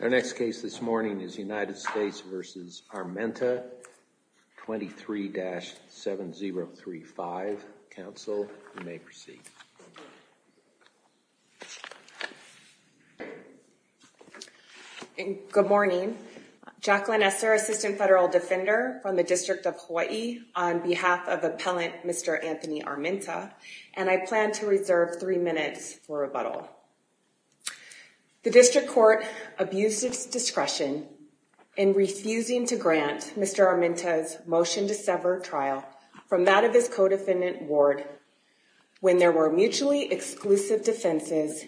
23-7035. Council, you may proceed. Good morning. Jacqueline Esser, Assistant Federal Defender from the District of Hawaii on behalf of Appellant Mr. Anthony Armenta, and I plan to reserve three minutes for rebuttal. The district court abused its discretion in refusing to grant Mr. Armenta's motion to sever trial from that of his co-defendant Ward when there were mutually exclusive defenses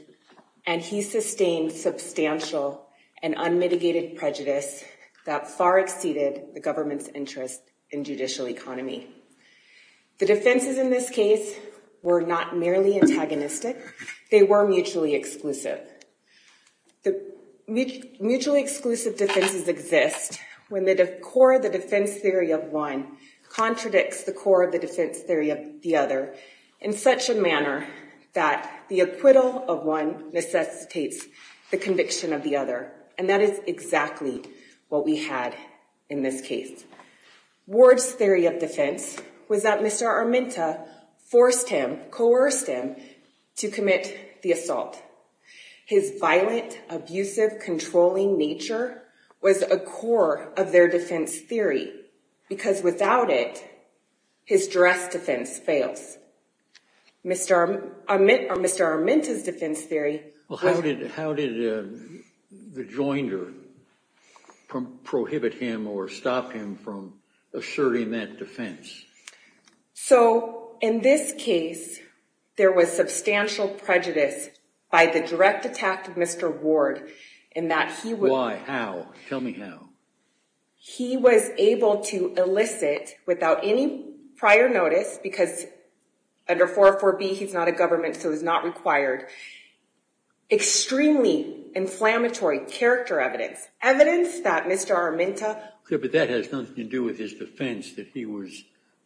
and he sustained substantial and unmitigated prejudice that far exceeded the government's interest in judicial economy. The defenses in this case were not merely antagonistic, they were mutually exclusive. Mutually exclusive defenses exist when the core of the defense theory of one contradicts the core of the defense theory of the other in such a manner that the acquittal of one necessitates the conviction of the other, and that is exactly what we had in this case. Ward's theory of defense was that Mr. Armenta forced him, coerced him to commit the assault. His violent, abusive, controlling nature was a core of their defense theory because without it, his direct defense fails. Mr. Armenta's defense theory... Well, how did the joinder prohibit him or stop him from asserting that defense? So, in this case, there was substantial prejudice by the direct attack of Mr. Ward in that he... Why? How? Tell me how. He was able to elicit, without any prior notice, because under 404B he's not a government so it's not required, extremely inflammatory character evidence. Evidence that Mr. Armenta...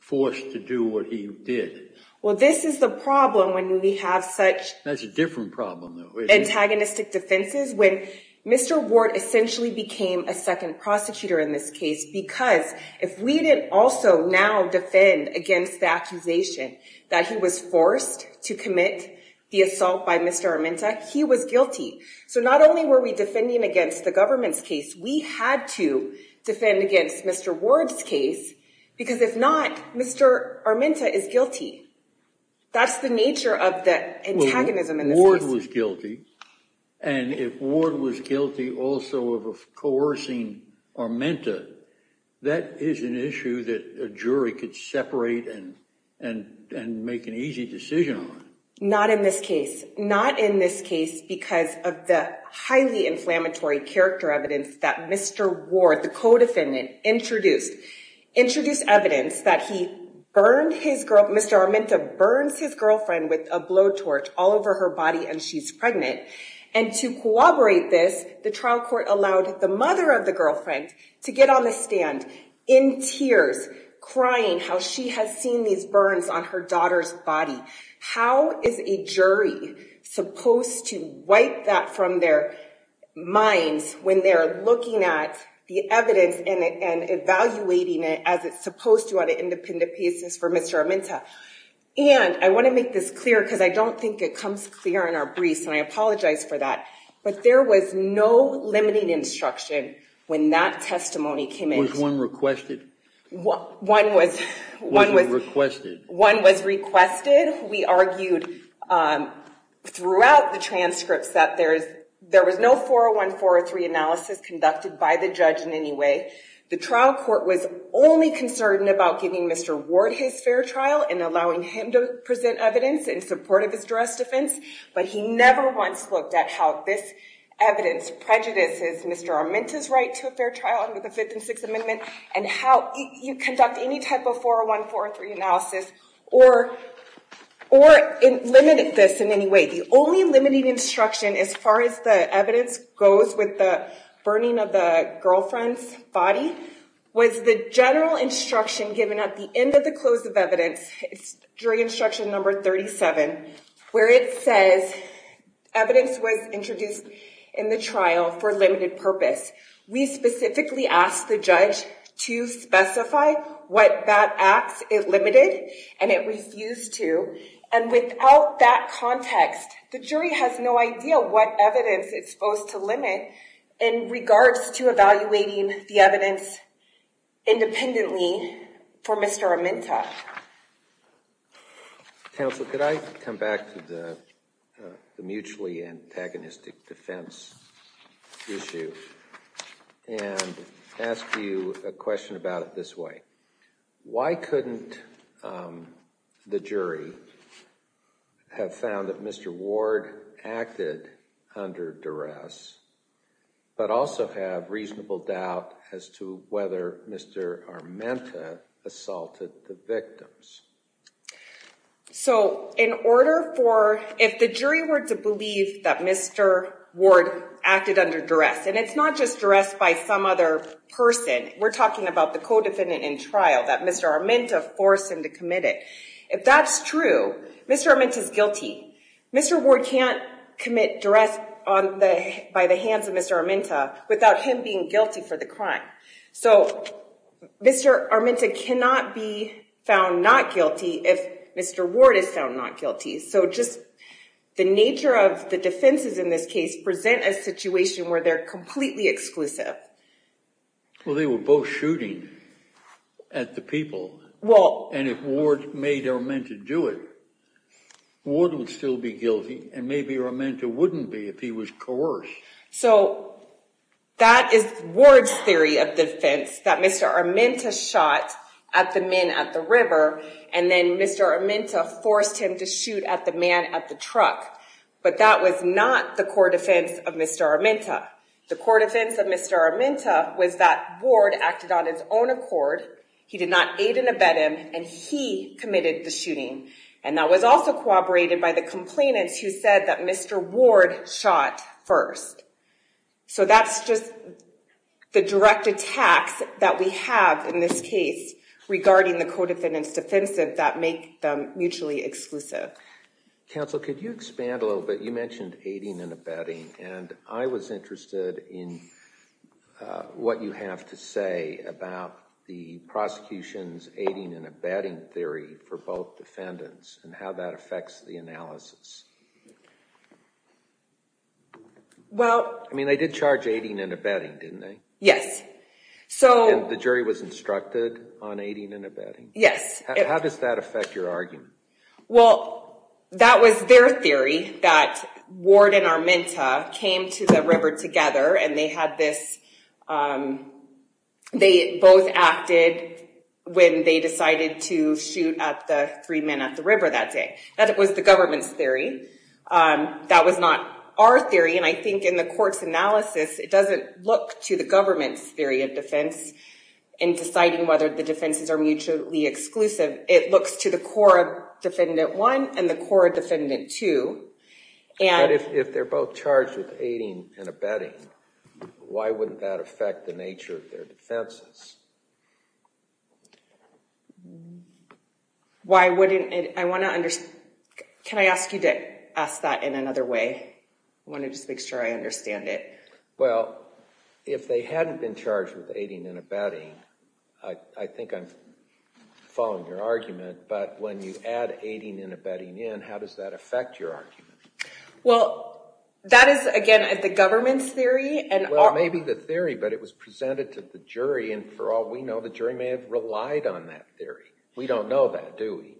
Forced to do what he did. Well, this is the problem when we have such... That's a different problem. Antagonistic defenses. When Mr. Ward essentially became a second prosecutor in this case because if we didn't also now defend against the accusation that he was forced to commit the assault by Mr. Armenta, he was guilty. So not only were we defending against the government's case, we had to defend against Mr. Ward's case because if not, Mr. Armenta is guilty. That's the nature of the antagonism in this case. Well, if Ward was guilty, and if Ward was guilty also of coercing Armenta, that is an issue that a jury could separate and make an easy decision on. Not in this case. Not in this case because of the highly inflammatory character evidence that Mr. Ward, the co-defendant, introduced. Introduced evidence that he burned his girl... Mr. Armenta burns his girlfriend with a blowtorch all over her body and she's pregnant. And to corroborate this, the trial court allowed the mother of the girlfriend to get on the stand in tears, crying how she has seen these burns on her daughter's body. How is a jury supposed to wipe that from their minds when they're looking at the evidence and evaluating it as it's supposed to on an independent basis for Mr. Armenta? And I want to make this clear because I don't think it comes clear in our briefs, and I apologize for that, but there was no limiting instruction when that testimony came in. Was one requested? One was... One was requested. One was requested. We argued throughout the transcripts that there was no 401, 403 analysis conducted by the judge in any way. The trial court was only concerned about giving Mr. Ward his fair trial and allowing him to present evidence in support of his just defense, but he never once looked at how this evidence prejudices Mr. Armenta's right to a fair trial under the Fifth and Sixth Amendment and how you conduct any type of 401, 403 analysis or limited this in any way. The only limiting instruction as far as the evidence goes with the burning of the girlfriend's body was the general instruction given at the end of the close of evidence, it's jury instruction number 37, where it says evidence was introduced in the trial for a limited purpose. We specifically asked the judge to specify what that act it limited, and it refused to, and without that context, the jury has no idea what evidence it's supposed to limit in regards to evaluating the evidence independently for Mr. Armenta. Counsel, could I come back to the mutually antagonistic defense issue and ask you a question about it this way. Why couldn't the jury have found that Mr. Ward acted under duress but also have reasonable doubt as to whether Mr. Armenta assaulted the victims? So in order for, if the jury were to believe that Mr. Ward acted under duress, and it's not just duress by some other person, we're talking about the co-defendant in trial that Mr. Armenta forced him to commit it. If that's true, Mr. Armenta's guilty. Mr. Ward can't commit duress by the hands of Mr. Armenta without him being guilty for the crime. So Mr. Armenta cannot be found not guilty if Mr. Ward is found not guilty. So just the nature of the defenses in this case present a situation where they're completely exclusive. Well, they were both shooting at the people. And if Ward made Armenta do it, Ward would still be guilty, and maybe Armenta wouldn't be if he was coerced. So that is Ward's theory of defense, that Mr. Armenta shot at the men at the river, and then Mr. Armenta forced him to shoot at the man at the truck. But that was not the core defense of Mr. Armenta. The core defense of Mr. Armenta was that Ward acted on his own accord. He did not aid and abet him, and he committed the shooting. And that was also corroborated by the complainants who said that Mr. Ward shot first. So that's just the direct attacks that we have in this case regarding the co-defendants' defensive that make them mutually exclusive. Counsel, could you expand a little bit? You mentioned aiding and abetting, and I was interested in what you have to say about the prosecution's aiding and abetting theory for both defendants and how that affects the analysis. I mean, they did charge aiding and abetting, didn't they? Yes. And the jury was instructed on aiding and abetting? Yes. How does that affect your argument? Well, that was their theory, that Ward and Armenta came to the river together, and they both acted when they decided to shoot at the three men at the river that day. That was the government's theory. That was not our theory, and I think in the court's analysis, it doesn't look to the government's theory of defense in deciding whether the defenses are mutually exclusive. It looks to the core defendant one and the core defendant two. But if they're both charged with aiding and abetting, why wouldn't that affect the nature of their defenses? Why wouldn't it? I want to understand. Can I ask you to ask that in another way? I want to just make sure I understand it. Well, if they hadn't been charged with aiding and abetting, I think I'm following your argument. But when you add aiding and abetting in, how does that affect your argument? Well, that is, again, the government's theory. Well, it may be the theory, but it was presented to the jury, and for all we know, the jury may have relied on that theory. We don't know that, do we?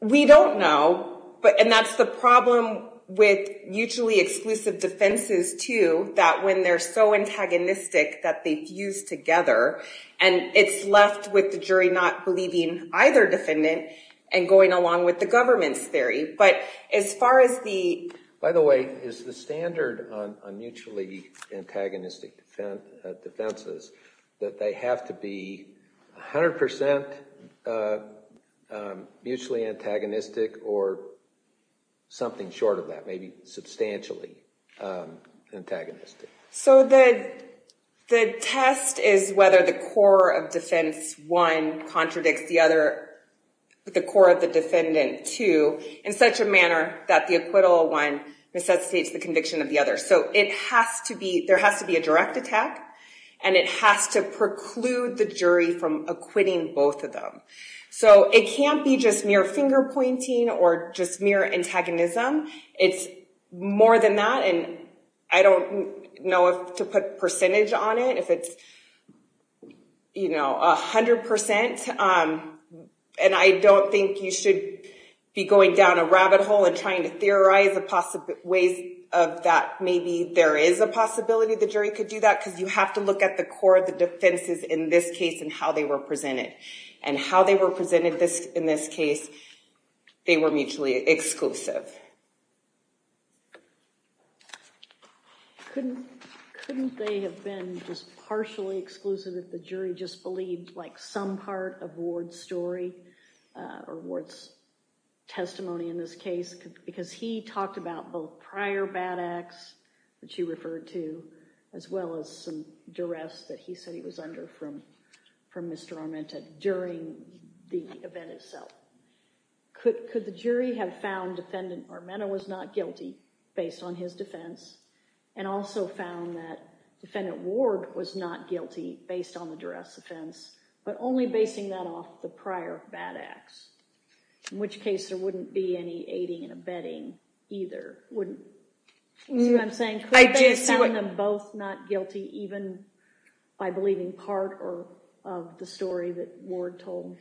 We don't know, and that's the problem with mutually exclusive defenses, too, that when they're so antagonistic that they fuse together, and it's left with the jury not believing either defendant and going along with the government's theory. But as far as the— By the way, is the standard on mutually antagonistic defenses that they have to be 100% mutually antagonistic or something short of that, maybe substantially antagonistic? So the test is whether the core of defense one contradicts the core of the defendant two in such a manner that the acquittal one necessitates the conviction of the other. So there has to be a direct attack, and it has to preclude the jury from acquitting both of them. So it can't be just mere finger-pointing or just mere antagonism. It's more than that, and I don't know if to put percentage on it, if it's 100%. And I don't think you should be going down a rabbit hole and trying to theorize ways of that. Maybe there is a possibility the jury could do that, because you have to look at the core of the defenses in this case and how they were presented. And how they were presented in this case, they were mutually exclusive. Couldn't they have been just partially exclusive if the jury just believed some part of Ward's story or Ward's testimony in this case? Because he talked about both prior bad acts that you referred to as well as some duress that he said he was under from Mr. Armenta during the event itself. Could the jury have found Defendant Armenta was not guilty based on his defense and also found that Defendant Ward was not guilty based on the duress offense, but only basing that off the prior bad acts, in which case there wouldn't be any aiding and abetting either. See what I'm saying? Could they have found them both not guilty even by believing part of the story that Ward told?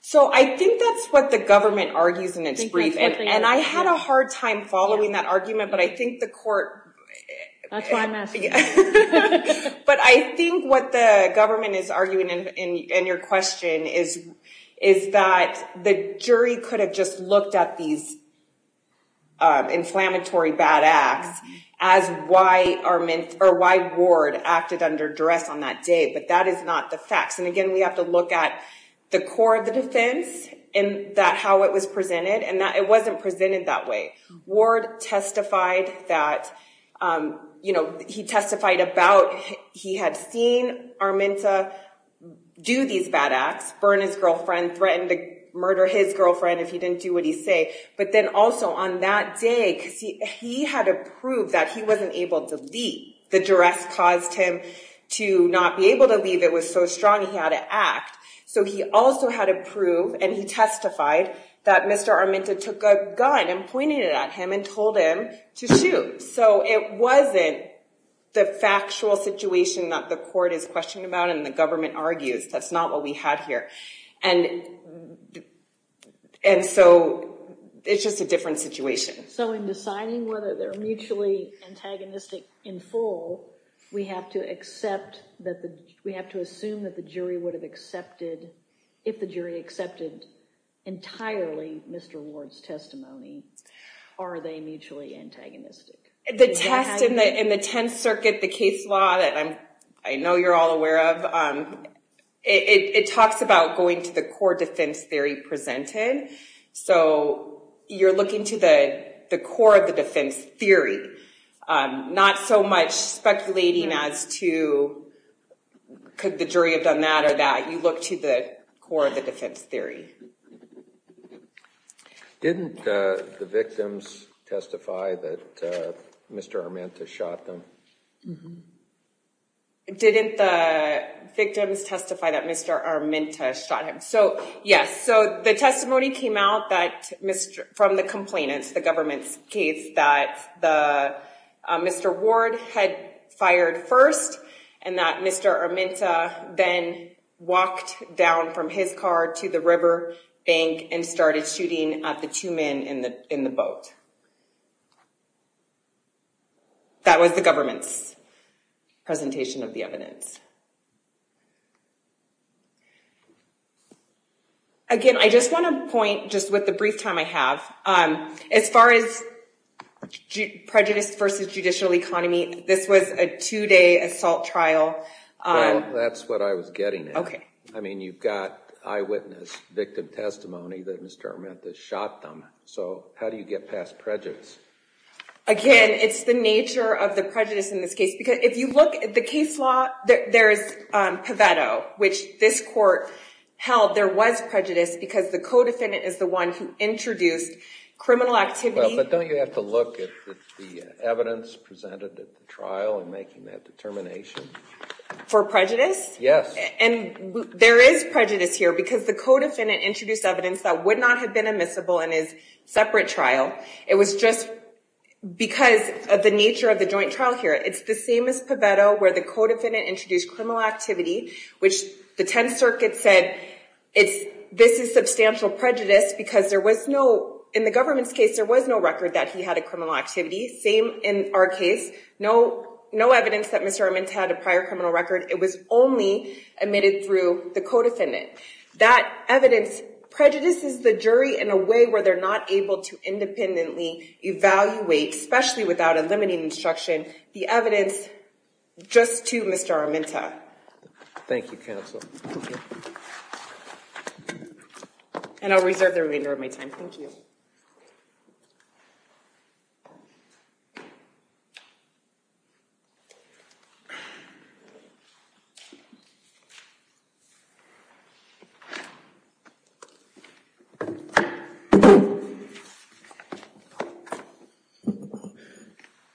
So I think that's what the government argues in its brief. And I had a hard time following that argument, but I think the court... That's why I'm asking. But I think what the government is arguing in your question is that the jury could have just looked at these inflammatory bad acts as why Armenta or why Ward acted under duress on that day, but that is not the facts. And again, we have to look at the core of the defense and that how it was presented and that it wasn't presented that way. Ward testified that, you know, he testified about he had seen Armenta do these bad acts, burn his girlfriend, threatened to murder his girlfriend if he didn't do what he said, but then also on that day, he had to prove that he wasn't able to leave. The duress caused him to not be able to leave. It was so strong he had to act. So he also had to prove and he testified that Mr. Armenta took a gun and pointed it at him and told him to shoot. So it wasn't the factual situation that the court is questioning about and the government argues. That's not what we had here. And so it's just a different situation. So in deciding whether they're mutually antagonistic in full, we have to assume that the jury would have accepted, if the jury accepted entirely Mr. Ward's testimony, are they mutually antagonistic? The test in the Tenth Circuit, the case law that I know you're all aware of, it talks about going to the core defense theory presented. So you're looking to the core of the defense theory, not so much speculating as to could the jury have done that or that. You look to the core of the defense theory. Didn't the victims testify that Mr. Armenta shot them? Didn't the victims testify that Mr. Armenta shot him? So, yes. So the testimony came out from the complainants, the government's case, that Mr. Ward had fired first and that Mr. Armenta then walked down from his car to the river bank and started shooting at the two men in the boat. That was the government's presentation of the evidence. Again, I just want to point, just with the brief time I have, as far as prejudice versus judicial economy, this was a two-day assault trial. Well, that's what I was getting at. Okay. I mean, you've got eyewitness victim testimony that Mr. Armenta shot them. So how do you get past prejudice? Again, it's the nature of the prejudice in this case. Because if you look at the case law, there's Pavetto, which this court held. There was prejudice because the co-defendant is the one who introduced criminal activity. But don't you have to look at the evidence presented at the trial in making that determination? For prejudice? Yes. And there is prejudice here because the co-defendant introduced evidence that would not have been admissible in his separate trial. It was just because of the nature of the joint trial here. It's the same as Pavetto, where the co-defendant introduced criminal activity, which the Tenth Circuit said this is substantial prejudice because in the government's case there was no record that he had a criminal activity. Same in our case. No evidence that Mr. Armenta had a prior criminal record. It was only admitted through the co-defendant. That evidence prejudices the jury in a way where they're not able to independently evaluate, especially without a limiting instruction, the evidence just to Mr. Armenta. Thank you, counsel. Thank you. And I'll reserve the remainder of my time. Thank you.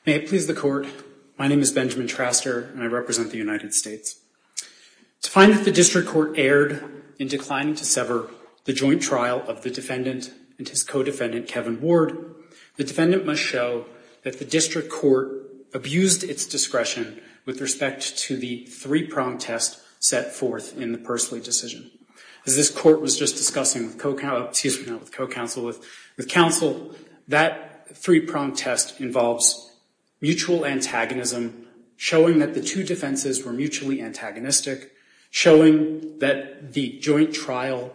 May it please the Court. My name is Benjamin Traster, and I represent the United States. To find that the district court erred in declining to sever the joint trial of the defendant and his co-defendant, Kevin Ward, the defendant must show that the district court abused its discretion with respect to the three-prong test set forth in the Persley decision. As this Court was just discussing with counsel, that three-prong test involves mutual antagonism, showing that the two defenses were mutually antagonistic, showing that the joint trial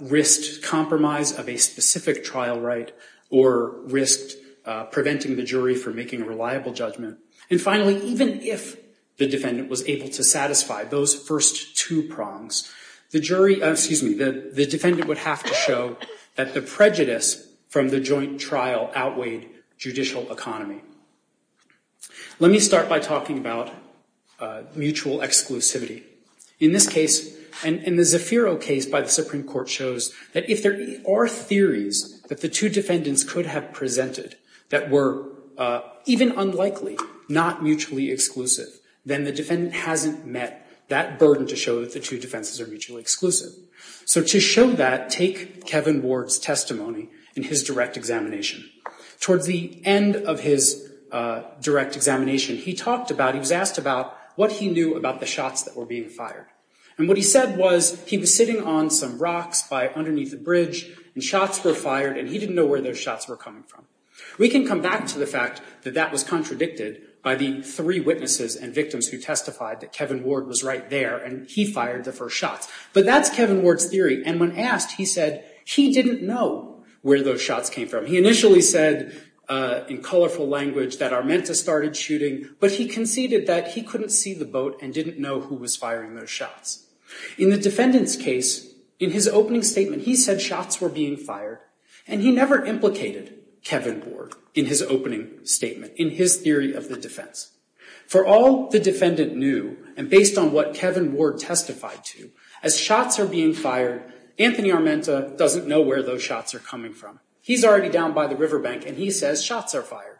risked compromise of a specific trial right or risked preventing the jury from making a reliable judgment. And finally, even if the defendant was able to satisfy those first two prongs, the defendant would have to show that the prejudice from the joint trial outweighed judicial economy. Let me start by talking about mutual exclusivity. In this case, and the Zafiro case by the Supreme Court shows that if there are theories that the two defendants could have presented that were even unlikely not mutually exclusive, then the defendant hasn't met that burden to show that the two defenses are mutually exclusive. So to show that, take Kevin Ward's testimony in his direct examination. Towards the end of his direct examination, he talked about, he was asked about what he knew about the shots that were being fired. And what he said was he was sitting on some rocks by underneath the bridge, and shots were fired, and he didn't know where those shots were coming from. We can come back to the fact that that was contradicted by the three witnesses and victims who testified that Kevin Ward was right there, and he fired the first shots. But that's Kevin Ward's theory, and when asked, he said he didn't know where those shots came from. He initially said in colorful language that Armenta started shooting, but he conceded that he couldn't see the boat and didn't know who was firing those shots. In the defendant's case, in his opening statement, he said shots were being fired, and he never implicated Kevin Ward in his opening statement, in his theory of the defense. For all the defendant knew, and based on what Kevin Ward testified to, as shots are being fired, Anthony Armenta doesn't know where those shots are coming from. He's already down by the riverbank, and he says shots are fired.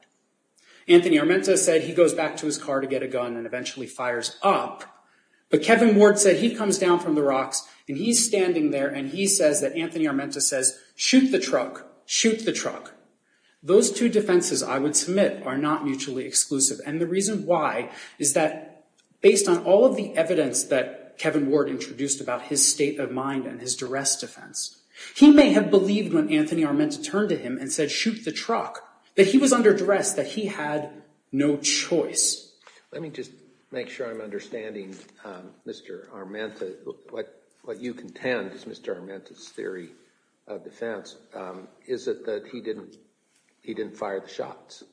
Anthony Armenta said he goes back to his car to get a gun and eventually fires up, but Kevin Ward said he comes down from the rocks, and he's standing there, and he says that Anthony Armenta says, shoot the truck, shoot the truck. Those two defenses, I would submit, are not mutually exclusive, and the reason why is that based on all of the evidence that Kevin Ward introduced about his state of mind and his duress defense, he may have believed when Anthony Armenta turned to him and said shoot the truck that he was under duress, that he had no choice. Let me just make sure I'm understanding, Mr. Armenta, what you contend is Mr. Armenta's theory of defense is that he didn't fire the shots.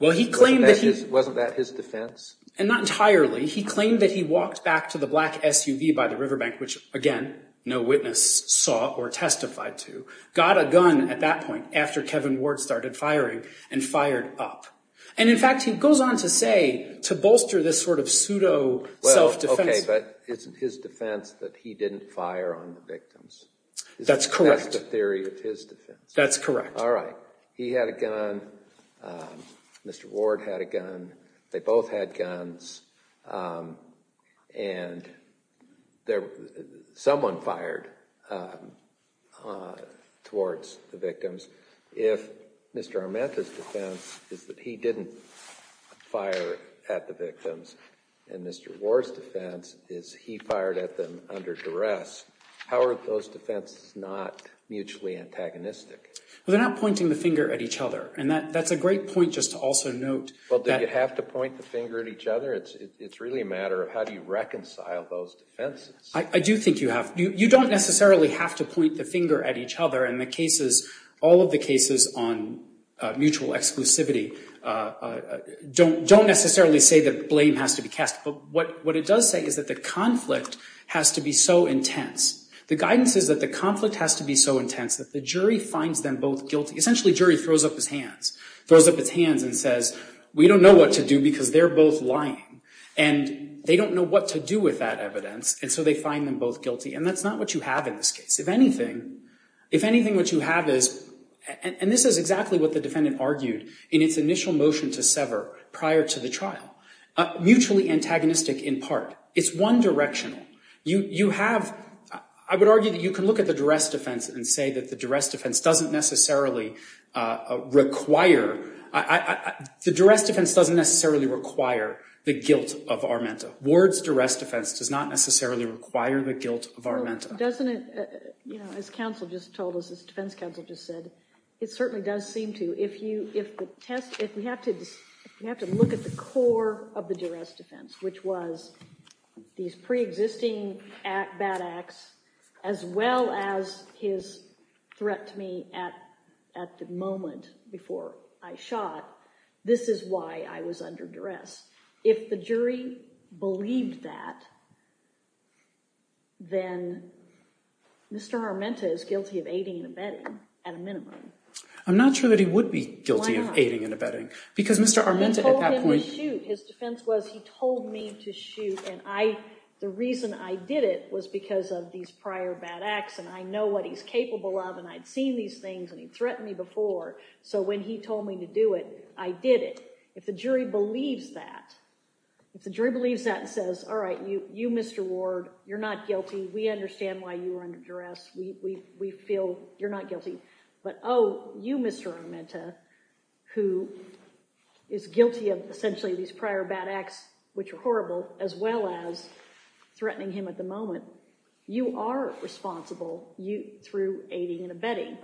Wasn't that his defense? And not entirely. He claimed that he walked back to the black SUV by the riverbank, which, again, no witness saw or testified to, got a gun at that point after Kevin Ward started firing and fired up. And, in fact, he goes on to say, to bolster this sort of pseudo self-defense. Well, okay, but isn't his defense that he didn't fire on the victims? That's correct. That's the theory of his defense. That's correct. All right. He had a gun. Mr. Ward had a gun. They both had guns. And someone fired towards the victims. If Mr. Armenta's defense is that he didn't fire at the victims and Mr. Ward's defense is he fired at them under duress, how are those defenses not mutually antagonistic? Well, they're not pointing the finger at each other. And that's a great point just to also note. Well, do you have to point the finger at each other? It's really a matter of how do you reconcile those defenses. I do think you have. You don't necessarily have to point the finger at each other. And the cases, all of the cases on mutual exclusivity, don't necessarily say that blame has to be cast. But what it does say is that the conflict has to be so intense. The guidance is that the conflict has to be so intense that the jury finds them both guilty. Essentially, jury throws up its hands and says, we don't know what to do because they're both lying. And they don't know what to do with that evidence. And so they find them both guilty. And that's not what you have in this case. If anything, what you have is, and this is exactly what the defendant argued in its initial motion to sever prior to the trial, mutually antagonistic in part. It's one directional. You have, I would argue that you can look at the duress defense and say that the duress defense doesn't necessarily require the guilt of Armenta. Ward's duress defense does not necessarily require the guilt of Armenta. Doesn't it, as counsel just told us, as defense counsel just said, it certainly does seem to. If we have to look at the core of the duress defense, which was these pre-existing bad acts as well as his threat to me at the moment before I shot, this is why I was under duress. If the jury believed that, then Mr. Armenta is guilty of aiding and abetting at a minimum. I'm not sure that he would be guilty of aiding and abetting. Because Mr. Armenta at that point— I told him to shoot. His defense was he told me to shoot, and the reason I did it was because of these prior bad acts, and I know what he's capable of, and I'd seen these things, and he'd threatened me before. So when he told me to do it, I did it. If the jury believes that, if the jury believes that and says, all right, you, Mr. Ward, you're not guilty. We understand why you were under duress. We feel you're not guilty. But, oh, you, Mr. Armenta, who is guilty of essentially these prior bad acts, which are horrible, as well as threatening him at the moment, you are responsible through aiding and abetting.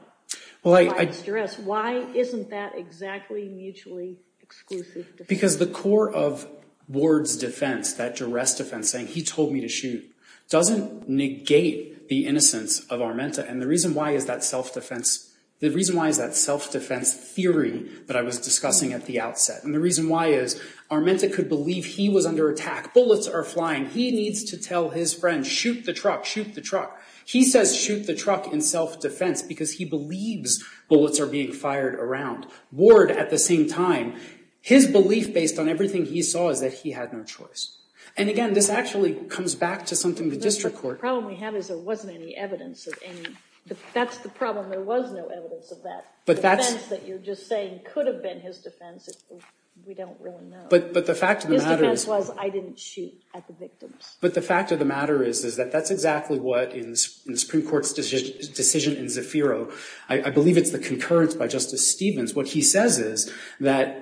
Why is that duress? Why isn't that exactly mutually exclusive? Because the core of Ward's defense, that duress defense saying he told me to shoot, doesn't negate the innocence of Armenta, and the reason why is that self-defense theory that I was discussing at the outset. And the reason why is, Armenta could believe he was under attack. Bullets are flying. He needs to tell his friends, shoot the truck, shoot the truck. He says shoot the truck in self-defense because he believes bullets are being fired around. Ward, at the same time, his belief based on everything he saw is that he had no choice. And again, this actually comes back to something the district court... That's the problem. There was no evidence of that. The defense that you're just saying could have been his defense, we don't really know. But the fact of the matter is... His defense was I didn't shoot at the victims. But the fact of the matter is that that's exactly what, in the Supreme Court's decision in Zafiro, I believe it's the concurrence by Justice Stevens. What he says is that,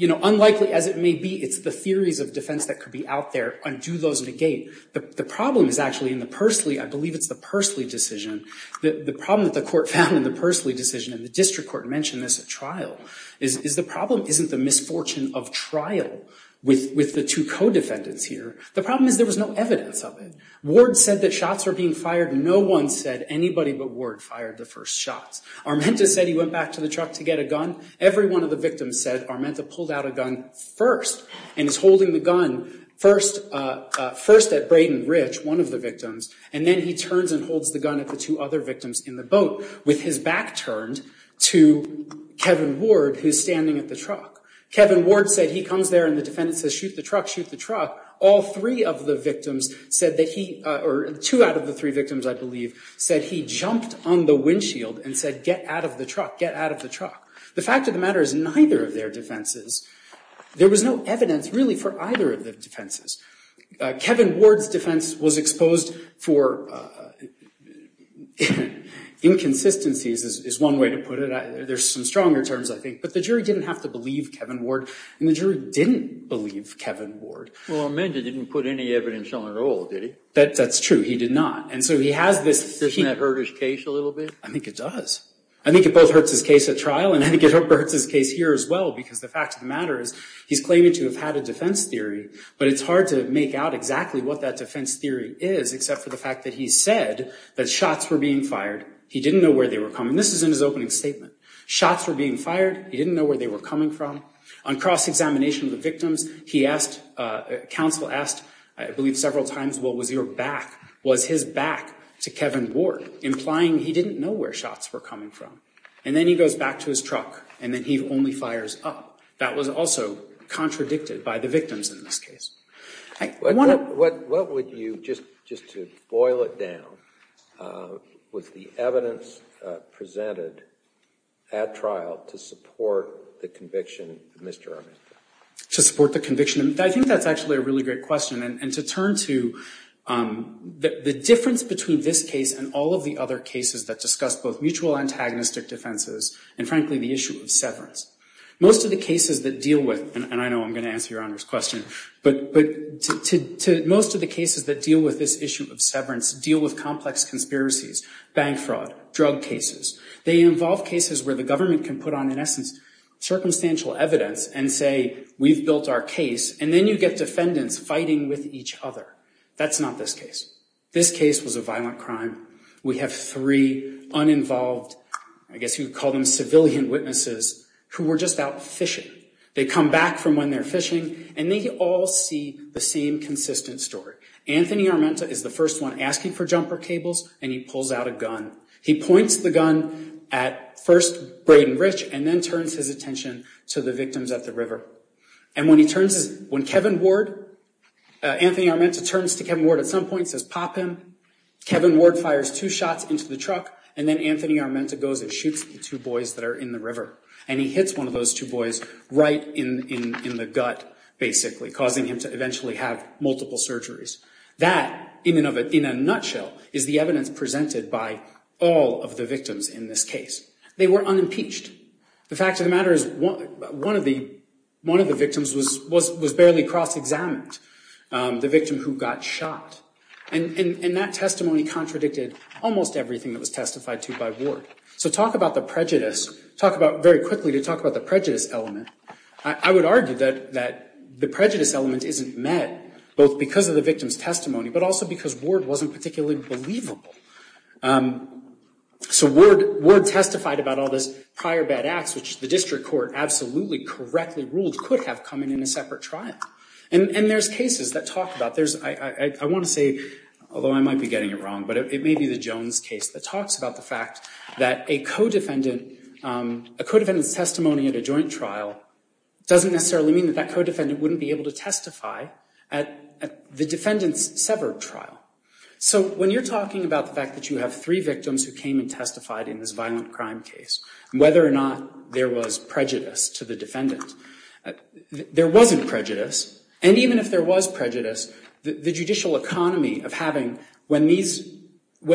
unlikely as it may be, it's the theories of defense that could be out there and do those negate. The problem is actually in the Persley, I believe it's the Persley decision, the problem that the court found in the Persley decision, and the district court mentioned this at trial, is the problem isn't the misfortune of trial with the two co-defendants here. The problem is there was no evidence of it. Ward said that shots were being fired. No one said anybody but Ward fired the first shots. Armenta said he went back to the truck to get a gun. Every one of the victims said Armenta pulled out a gun first and is holding the gun first at Braden Rich, one of the victims, and then he turns and holds the gun at the two other victims in the boat with his back turned to Kevin Ward, who's standing at the truck. Kevin Ward said he comes there and the defendant says, shoot the truck, shoot the truck. All three of the victims said that he, or two out of the three victims, I believe, said he jumped on the windshield and said get out of the truck, get out of the truck. The fact of the matter is neither of their defenses, there was no evidence really for either of the defenses. Kevin Ward's defense was exposed for inconsistencies is one way to put it. There's some stronger terms, I think, but the jury didn't have to believe Kevin Ward and the jury didn't believe Kevin Ward. Well, Armenta didn't put any evidence on the roll, did he? That's true, he did not. And so he has this... Doesn't that hurt his case a little bit? I think it does. I think it both hurts his case at trial and I think it hurts his case here as well because the fact of the matter is he's claiming to have had a defense theory but it's hard to make out exactly what that defense theory is except for the fact that he said that shots were being fired, he didn't know where they were coming. This is in his opening statement. Shots were being fired, he didn't know where they were coming from. On cross-examination of the victims, he asked... Counsel asked, I believe several times, what was your back? Was his back to Kevin Ward? Implying he didn't know where shots were coming from. And then he goes back to his truck and then he only fires up. That was also contradicted by the victims in this case. What would you... Just to boil it down, was the evidence presented at trial to support the conviction of Mr. Armista? To support the conviction? I think that's actually a really great question and to turn to the difference between this case and all of the other cases that discuss both mutual antagonistic defenses and, frankly, the issue of severance. Most of the cases that deal with... And I know I'm going to answer Your Honor's question, but most of the cases that deal with this issue of severance deal with complex conspiracies, bank fraud, drug cases. They involve cases where the government can put on, in essence, circumstantial evidence and say, we've built our case, and then you get defendants fighting with each other. That's not this case. This case was a violent crime. We have three uninvolved, I guess you would call them civilian witnesses, who were just out fishing. They come back from when they're fishing and they all see the same consistent story. Anthony Armenta is the first one asking for jumper cables and he pulls out a gun. He points the gun at, first, Braden Rich and then turns his attention to the victims at the river. And when he turns his... When Kevin Ward... Anthony Armenta turns to Kevin Ward at some point, says, pop him. Kevin Ward fires two shots into the truck and then Anthony Armenta goes and shoots the two boys that are in the river. And he hits one of those two boys right in the gut, basically, causing him to eventually have multiple surgeries. That, in a nutshell, is the evidence presented by all of the victims in this case. They were unimpeached. The fact of the matter is one of the victims was barely cross-examined, the victim who got shot. And that testimony contradicted almost everything that was testified to by Ward. So talk about the prejudice. Talk about, very quickly, to talk about the prejudice element. I would argue that the prejudice element isn't met both because of the victim's testimony but also because Ward wasn't particularly believable. So Ward testified about all this prior bad acts, which the district court absolutely correctly ruled could have come in in a separate trial. And there's cases that talk about... I want to say, although I might be getting it wrong, but it may be the Jones case that talks about the fact that a co-defendant's testimony at a joint trial doesn't necessarily mean that that co-defendant wouldn't be able to testify at the defendant's severed trial. So when you're talking about the fact that you have three victims who came and testified in this violent crime case, whether or not there was prejudice to the defendant, there wasn't prejudice. And even if there was prejudice, the judicial economy of having... When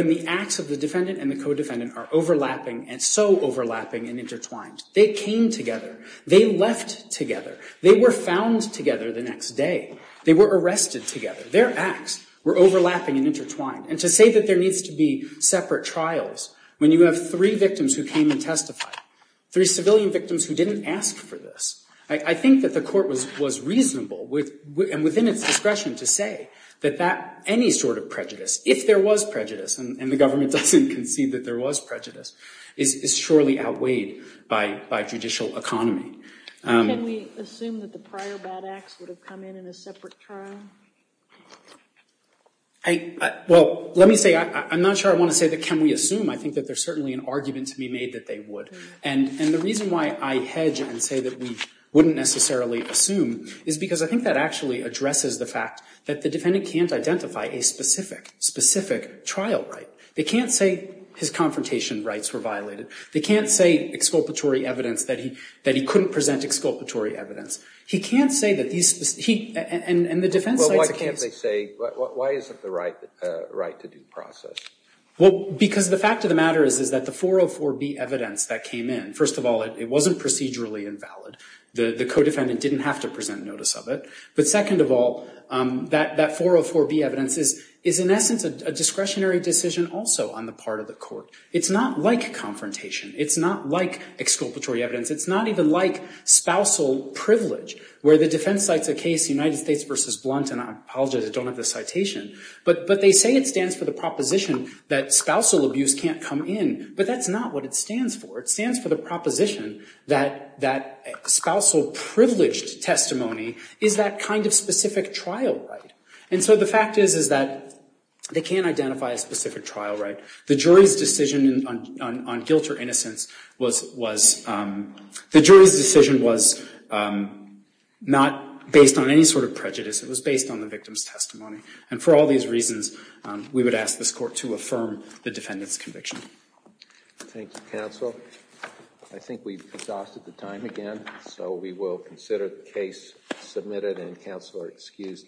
the acts of the defendant and the co-defendant are overlapping and so overlapping and intertwined, they came together. They left together. They were found together the next day. They were arrested together. Their acts were overlapping and intertwined. And to say that there needs to be separate trials when you have three victims who came and testified, three civilian victims who didn't ask for this, I think that the court was reasonable and within its discretion to say that any sort of prejudice, if there was prejudice, and the government doesn't concede that there was prejudice, is surely outweighed by judicial economy. Can we assume that the prior bad acts would have come in in a separate trial? Well, let me say, I'm not sure I want to say that can we assume. I think that there's certainly an argument to be made that they would. And the reason why I hedge and say that we wouldn't necessarily assume is because I think that actually addresses the fact that the defendant can't identify a specific, specific trial right. They can't say his confrontation rights were violated. They can't say exculpatory evidence that he couldn't present exculpatory evidence. He can't say that these, and the defense side's the case. Well, why can't they say, why isn't the right to due process? Well, because the fact of the matter is that the 404B evidence that came in, first of all, it wasn't procedurally invalid. The co-defendant didn't have to present notice of it. But second of all, that 404B evidence is in essence a discretionary decision also on the part of the court. It's not like confrontation. It's not like exculpatory evidence. It's not even like spousal privilege where the defense side's the case, United States versus Blunt. And I apologize, I don't have the citation. But they say it stands for the proposition that spousal abuse can't come in. But that's not what it stands for. It stands for the proposition that spousal privileged testimony is that kind of specific trial right. And so the fact is, is that they can't identify a specific trial right. The jury's decision on guilt or innocence was, the jury's decision was not based on any sort of prejudice. It was based on the victim's testimony. And for all these reasons, we would ask this court to affirm the defendant's conviction. Thank you, counsel. I think we've exhausted the time again. So we will consider the case submitted and counsel are excused.